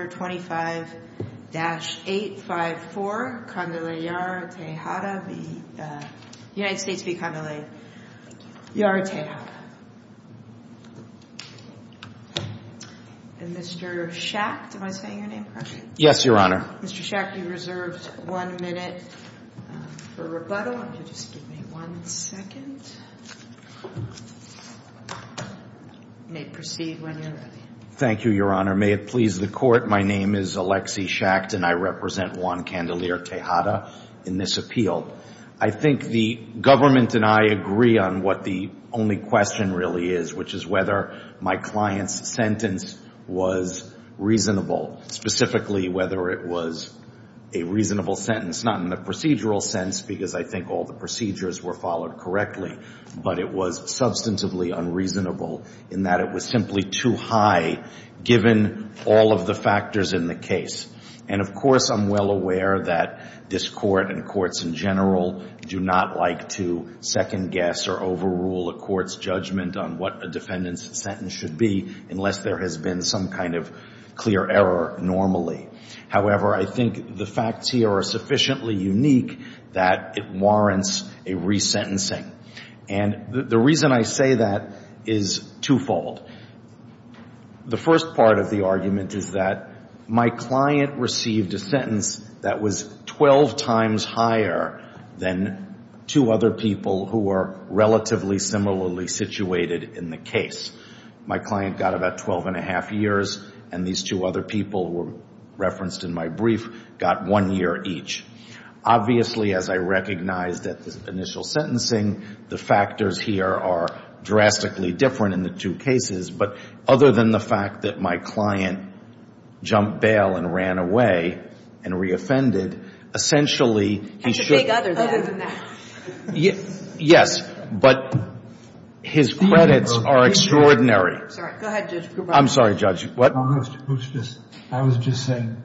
and Mr. Schacht, am I saying your name correctly? Yes, Your Honor. Mr. Schacht, you're reserved one minute for rebuttal. If you'll just give me one second. You may proceed when you're ready. Thank you, Your Honor. May it please the Court, my name is Alexi Schacht and I represent Juan Candelier Tejada in this appeal. I think the government and I agree on what the only question really is, which is whether my client's sentence was reasonable, specifically whether it was a reasonable sentence, not in the procedural sense because I think all the procedures were followed correctly, but it was substantively unreasonable in that it was simply too high given all of the factors in the case. And of course I'm well aware that this Court and courts in general do not like to second guess or overrule a court's judgment on what a defendant's sentence should be unless there has been some kind of clear error normally. However, I think the facts here are sufficiently unique that it warrants a resentencing. And the reason I say that is twofold. The first part of the argument is that my client received a sentence that was 12 times higher than two other people who are relatively similarly situated in the case. My client got about 12 and a half years and these two other people referenced in my brief got one year each. Obviously as I recognized at the initial sentencing, the factors here are drastically different in the two cases, but other than the fact that my client jumped bail and ran away and re-offended, essentially he should – He should take other than that. Yes, but his credits are extraordinary. Go ahead, Judge. I'm sorry, Judge. I was just saying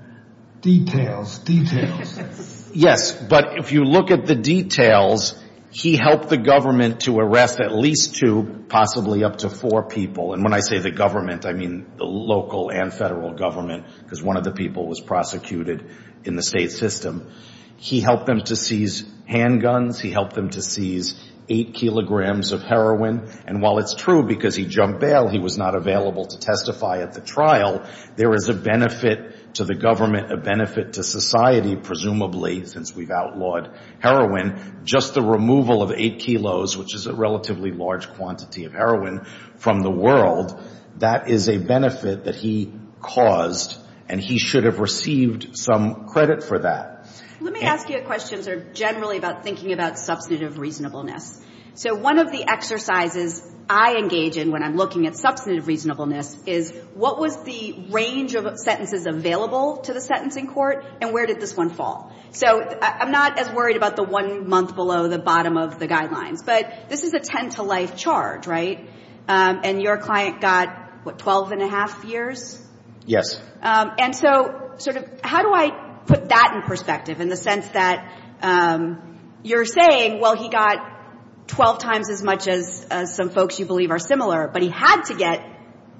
details, details. Yes, but if you look at the details, he helped the government to arrest at least two, possibly up to four people. And when I say the government, I mean the local and federal government because one of the people was prosecuted in the state system. He helped them to seize handguns. He helped them to seize eight kilograms of heroin. And while it's true because he jumped bail, he was not available to testify at the trial, there is a benefit to the government, a benefit to society, presumably, since we've outlawed heroin, just the removal of eight kilos, which is a relatively large quantity of heroin, from the world, that is a benefit that he caused and he should have received some credit for that. Let me ask you a question that's generally about thinking about substantive reasonableness. So one of the exercises I engage in when I'm looking at substantive reasonableness is what was the range of sentences available to the sentencing court and where did this one fall? So I'm not as worried about the one month below the bottom of the guidelines, but this is a 10 to life charge, right? And your client got, what, 12 and a half years? Yes. And so, sort of, how do I put that in perspective in the sense that you're saying, well, he got 12 times as much as some folks you believe are similar, but he had to get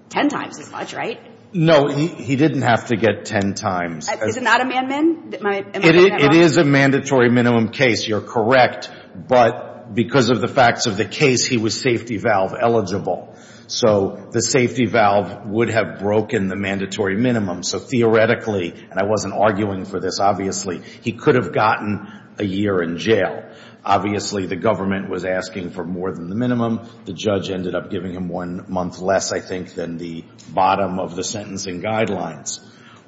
10 times as much, right? No, he didn't have to get 10 times. Is it not a man-min? It is a mandatory minimum case, you're correct, but because of the facts of the case, he was safety valve eligible. So the safety valve would have broken the mandatory minimum. So theoretically, and I wasn't arguing for this, obviously, he could have gotten a year in jail. Obviously, the government was asking for more than the minimum. The judge ended up giving him one month less, I think, than the bottom of the sentencing guidelines.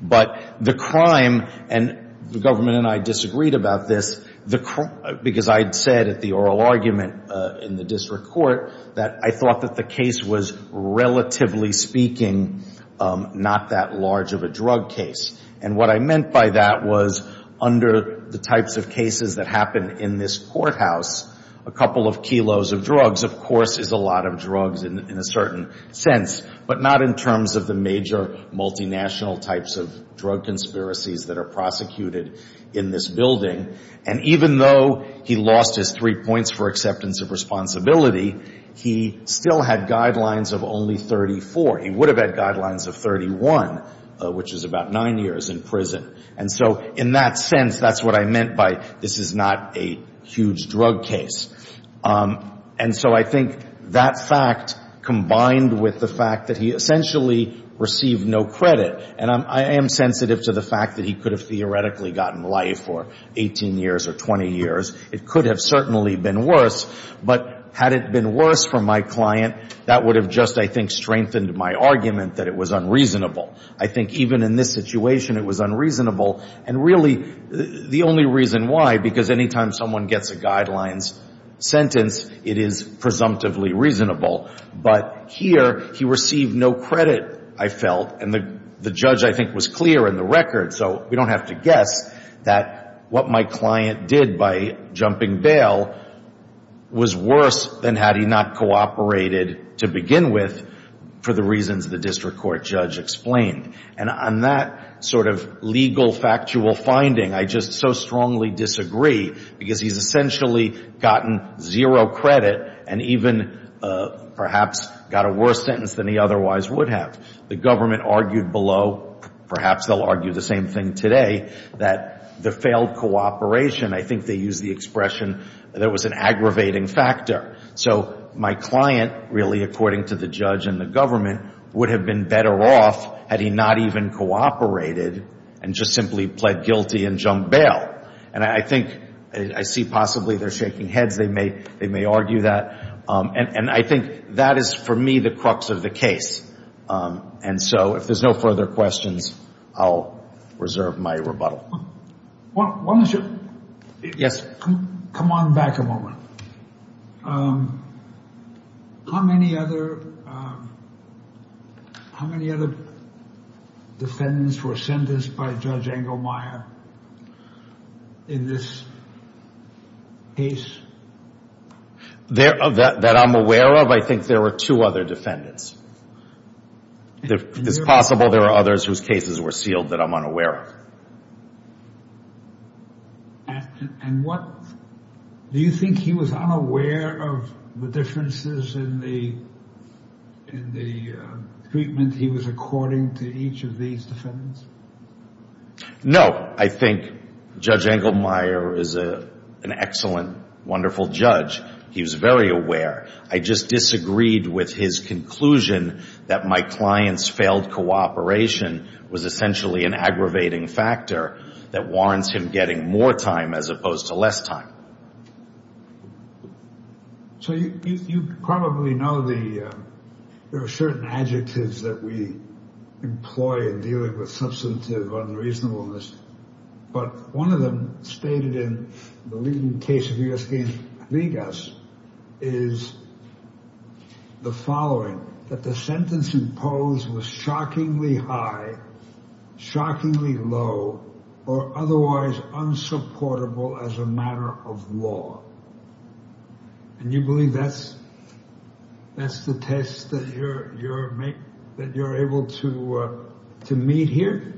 But the crime, and the government and I disagreed about this, because I had said at the oral argument in the district court that I thought that the case was, relatively speaking, not that large of a drug case. And what I meant by that was, under the types of cases that happen in this courthouse, a couple of kilos of drugs, of course, is a lot of drugs in a certain sense, but not in terms of the major multinational types of drug conspiracies that are prosecuted in this building. And even though he lost his three points for acceptance of responsibility, he still had guidelines of only 34. He would have had guidelines of 31, which is about nine years in prison. And so in that sense, that's what I meant by, this is not a huge drug case. And so I think that fact combined with the fact that he essentially received no credit, and I am sensitive to the fact that he could have theoretically gotten life for 18 years or 20 years. It could have certainly been worse, but had it been worse for my client, that would have just, I think, strengthened my argument that it was unreasonable. I think even in this situation, it was unreasonable. And really, the only reason why, because anytime someone gets a guidelines sentence, it is presumptively reasonable. But here, he received no credit, I felt, and the judge, I think, was clear in the record, so we don't have to guess that what my client did by jumping bail was worse than had he not cooperated to begin with, for the reasons the district court judge explained. And on that sort of legal factual finding, I just so strongly disagree, because he's essentially gotten zero credit, and even perhaps got a worse sentence than he otherwise would have. The government argued below, perhaps they'll argue the same thing today, that the failed cooperation, I think they used the expression, there was an aggravating factor. So my client, really, according to the judge and the government, would have been better off had he not even cooperated, and just simply pled guilty and jumped bail. And I think, I see possibly they're shaking heads, they may argue that. And I think that is, for me, the crux of the case. And so, if there's no further questions, I'll reserve my rebuttal. Why don't you... Yes. Come on back a moment. How many other defendants were sentenced by Judge Engelmeyer in this case? That I'm aware of, I think there were two other defendants. It's possible there are others whose cases were sealed that I'm unaware of. And what, do you think he was unaware of the differences in the treatment he was according to each of these defendants? No, I think Judge Engelmeyer is an excellent, wonderful judge. He was very aware. I just disagreed with his conclusion that my client's failed cooperation was essentially an aggravating factor that warrants him getting more time as opposed to less time. So, you probably know there are certain adjectives that we employ in dealing with substantive unreasonableness. But one of them stated in the leading case of U.S. v. Vegas is the following, that the sentence imposed was shockingly high, shockingly low, or otherwise unsupportable as a matter of law. And you believe that's the test that you're able to meet here?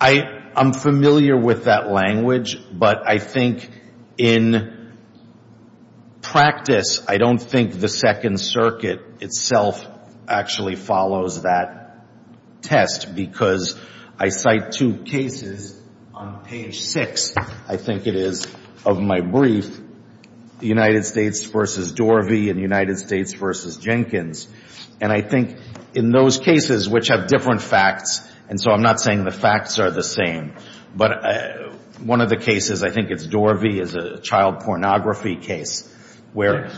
I'm familiar with that language, but I think in practice, I don't think the Second Circuit itself actually follows that test because I cite two cases on page 6, I think it is, of my brief, the United States v. Dorvey and the United States v. Jenkins. And I think in those cases, which have different facts, and so I'm not saying the facts are the same, but one of the cases, I think it's Dorvey, is a child pornography case where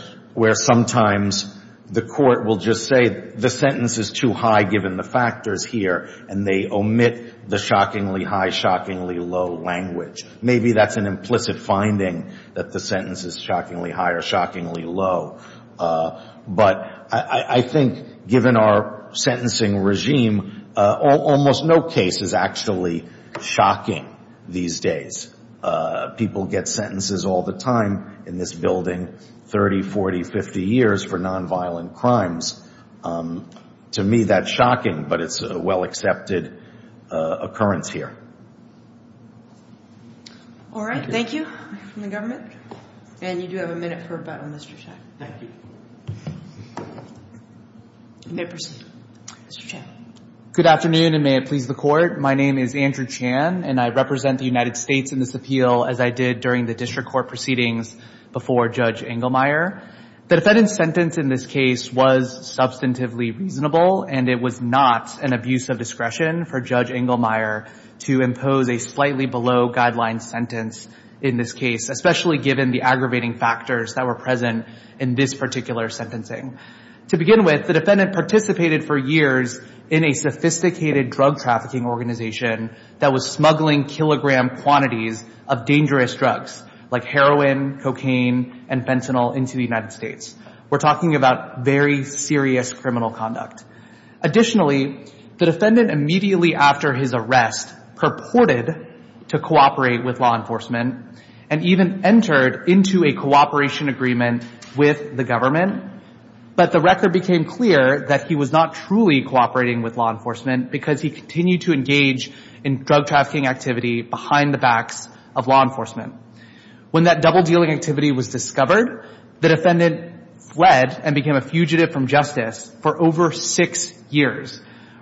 sometimes the court will just say the sentence is too high given the factors here and they omit the shockingly high, shockingly low language. Maybe that's an implicit finding that the sentence is shockingly high or shockingly low. But I think given our sentencing regime, almost no case is actually shocking these days. People get sentences all the time in this building, 30, 40, 50 years for nonviolent crimes. To me, that's shocking, but it's a well-accepted occurrence here. All right. Thank you. Thank you. And you do have a minute for a button, Mr. Chen. Thank you. You may proceed. Mr. Chen. Good afternoon, and may it please the Court. My name is Andrew Chen, and I represent the United States in this appeal as I did during the district court proceedings before Judge Engelmeyer. The defendant's sentence in this case was substantively reasonable, and it was not an abuse of discretion for Judge Engelmeyer to impose a slightly below-guideline sentence in this case, especially given the aggravating factors that were present in this particular sentence. To begin with, the defendant participated for years in a sophisticated drug-trafficking organization that was smuggling kilogram quantities of dangerous drugs like heroin, cocaine, and fentanyl into the United States. We're talking about very serious criminal conduct. Additionally, the defendant immediately after his arrest purported to cooperate with law enforcement and even entered into a cooperation agreement with the government but the record became clear that he was not truly cooperating with law enforcement because he continued to engage in drug-trafficking activity behind the backs of law enforcement. When that double-dealing activity was discovered, the defendant fled and became a fugitive from justice for over six years,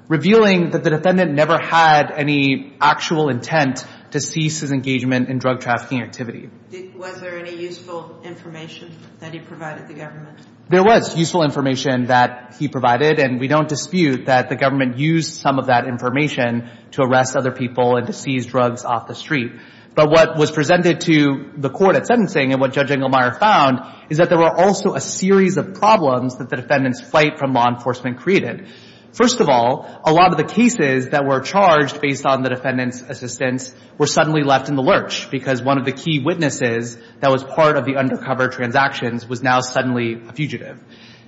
revealing that the defendant never had any actual intent to cease his engagement in drug-trafficking activity. Was there any useful information that he provided the government? There was useful information that he provided and we don't dispute that the government used some of that information to arrest other people and to seize drugs off the street. But what was presented to the court at sentencing and what Judge Engelmeyer found is that there were also a series of problems that the defendant's flight from law enforcement created. First of all, a lot of the cases that were charged based on the defendant's assistance were suddenly left in the lurch because one of the key witnesses that was part of the undercover transactions was now suddenly a fugitive.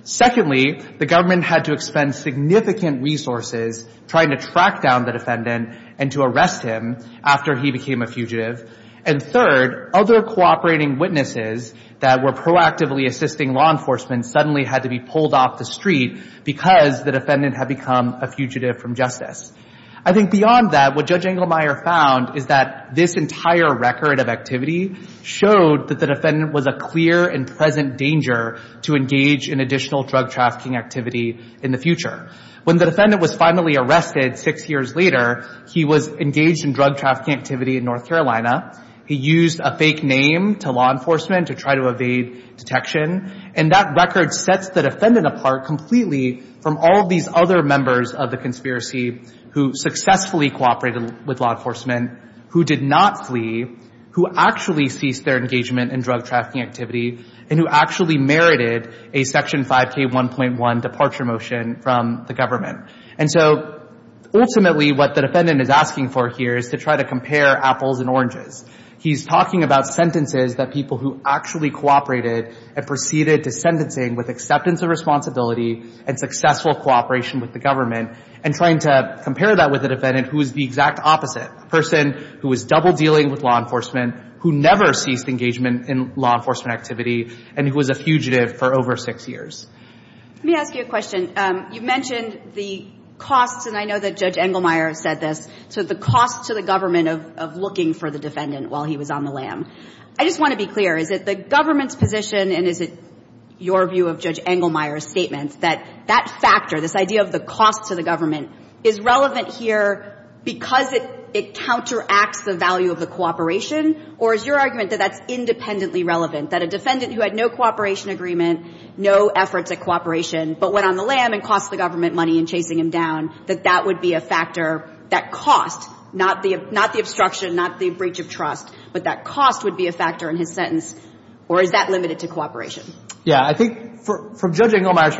the government had to expend significant resources trying to track down the defendant and to arrest him after he became a fugitive. And third, other cooperating witnesses that were proactively assisting law enforcement suddenly had to be pulled off the street because the defendant had become a fugitive from justice. I think beyond that, what Judge Engelmeyer found is that this entire record of activity showed that the defendant was a clear and present danger to engage in additional drug trafficking activity in the future. When the defendant was finally arrested six years later, he was engaged in drug trafficking activity in North Carolina. He used a fake name to law enforcement to try to evade detection. And that record sets the defendant apart completely from all these other members of the conspiracy who successfully cooperated with law enforcement, who did not flee, who actually ceased their engagement in drug trafficking activity, and who actually merited a Section 5K1.1 departure motion from the government. And so, ultimately, what the defendant is asking for here is to try to compare apples and oranges. He's talking about sentences that people who actually cooperated and proceeded to sentencing with acceptance of responsibility and successful cooperation with the government and trying to compare that with the defendant who was the exact opposite. A person who was double-dealing with law enforcement who never ceased engagement in law enforcement activity and who was a fugitive for over six years. Let me ask you a question. You mentioned the cost and I know that Judge Engelmeyer said this, so the cost to the government of looking for the defendant while he was on the lam. I just want to be clear, is it the government's position and is it your view of Judge Engelmeyer's statements that that factor, this idea of the cost to the government is relevant here because it counteracts the value of the cooperation or is your argument that that's independently relevant? That a defendant who had no cooperation agreement, no efforts at cooperation but went on the lam and cost the government money in chasing him down, that that would be a factor, that cost, not the obstruction, not the breach of trust, but that cost would be a factor in his sentence or is that limited to cooperation? Yeah. I think from Judge Engelmeyer's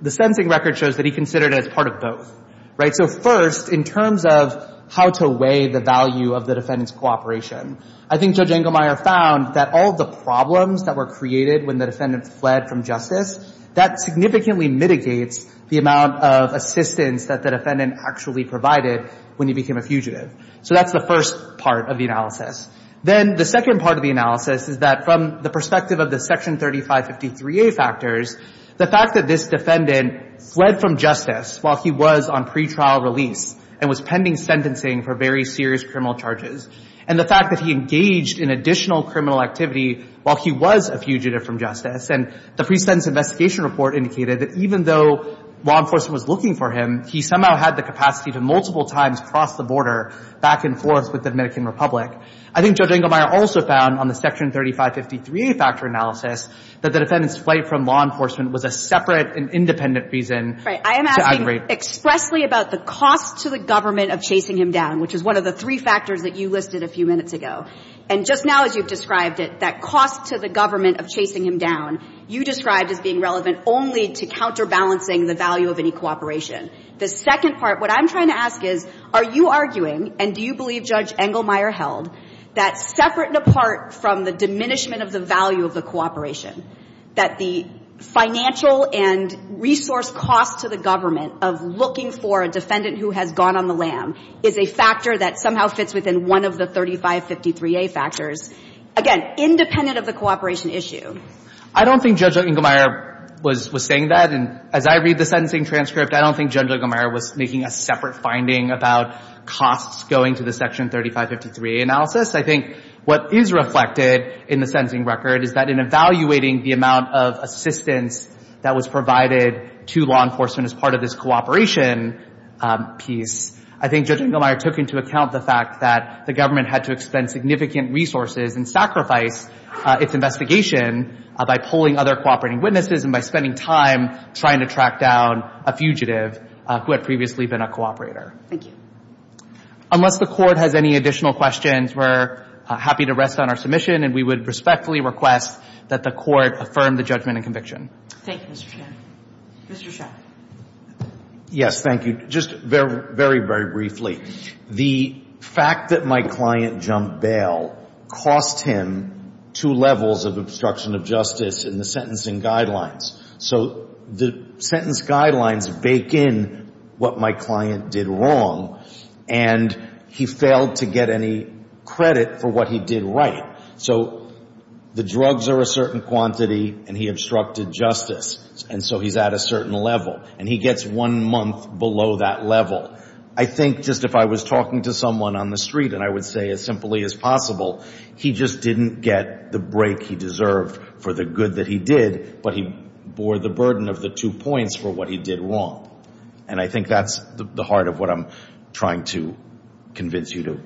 the sentencing record shows that he considered it as part of both. Right? So first, in terms of how to weigh the value of the defendant's cooperation, I think Judge Engelmeyer found that all the problems that were created when the defendant fled from justice, that significantly mitigates the amount of assistance that the defendant actually provided when he became a fugitive. So that's the first part of the analysis. Then, the second part of the analysis is that from the perspective of the Section 3553A factors, the fact that this defendant fled from justice while he was on pretrial release and was pending sentencing for very serious criminal charges and the fact that he engaged in additional criminal activity while he was a fugitive from justice and the pre-sentence investigation report indicated that even though law enforcement was looking for him, he somehow had the capacity to multiple times cross the border back and forth with the Dominican Republic. I think Judge Engelmeyer also found on the Section 3553A factor analysis that the defendant's escape from law enforcement was a separate and independent reason to aggravate. Right. expressly about the cost to the government of chasing him down, which is one of the three factors that you listed a few minutes ago. And just now, as you've described it, that cost to the government of chasing him down, you described as being relevant only to counterbalancing the value of any cooperation. The second part, what I'm trying to ask is, are you arguing, and do you believe Judge Engelmeyer held, that separate and apart from the diminishment of the value of the cooperation, that the financial and resource cost to the government of looking for a defendant who has gone on the lam is a factor that somehow fits within one of the 3553A factors, again, independent of the cooperation issue? I don't think Judge Engelmeyer was saying that. And as I read the sentencing transcript, I don't think Judge Engelmeyer was making a separate finding about costs going to the Section 3553A analysis. I think what is reflected in the sentencing record is that in evaluating the amount of assistance that was provided to law enforcement as part of this cooperation piece, I think Judge Engelmeyer took into account the fact that the government had to expend significant resources and sacrifice its investigation by pulling other cooperating witnesses and by spending time trying to track down a fugitive who had previously been a cooperator. Thank you. Unless the Court has any additional questions, we're happy to rest on our submission and we would respectfully request that the Court affirm the judgment and conviction. Thank you, Mr. Shan. Mr. Shah. Yes. Thank you. Just very, very briefly. The fact that my client jumped bail cost him two levels of obstruction of justice in the sentencing guidelines. So the sentence guidelines bake in what my client did wrong and he failed to get any credit for what he did right. So the drugs are a certain quantity and he obstructed justice and so he's at a certain level and he gets one month below that level. I think just if I was talking to someone on the street and I would say as simply as possible he just didn't get the break he deserved for the good that he did but he bore the burden of the two points for what he did wrong. And I think that's the heart of what I'm trying to convince you to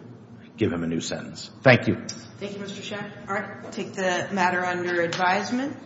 give him a new sentence. Thank you. Thank you Mr. Shek. I'll take the matter under advisement.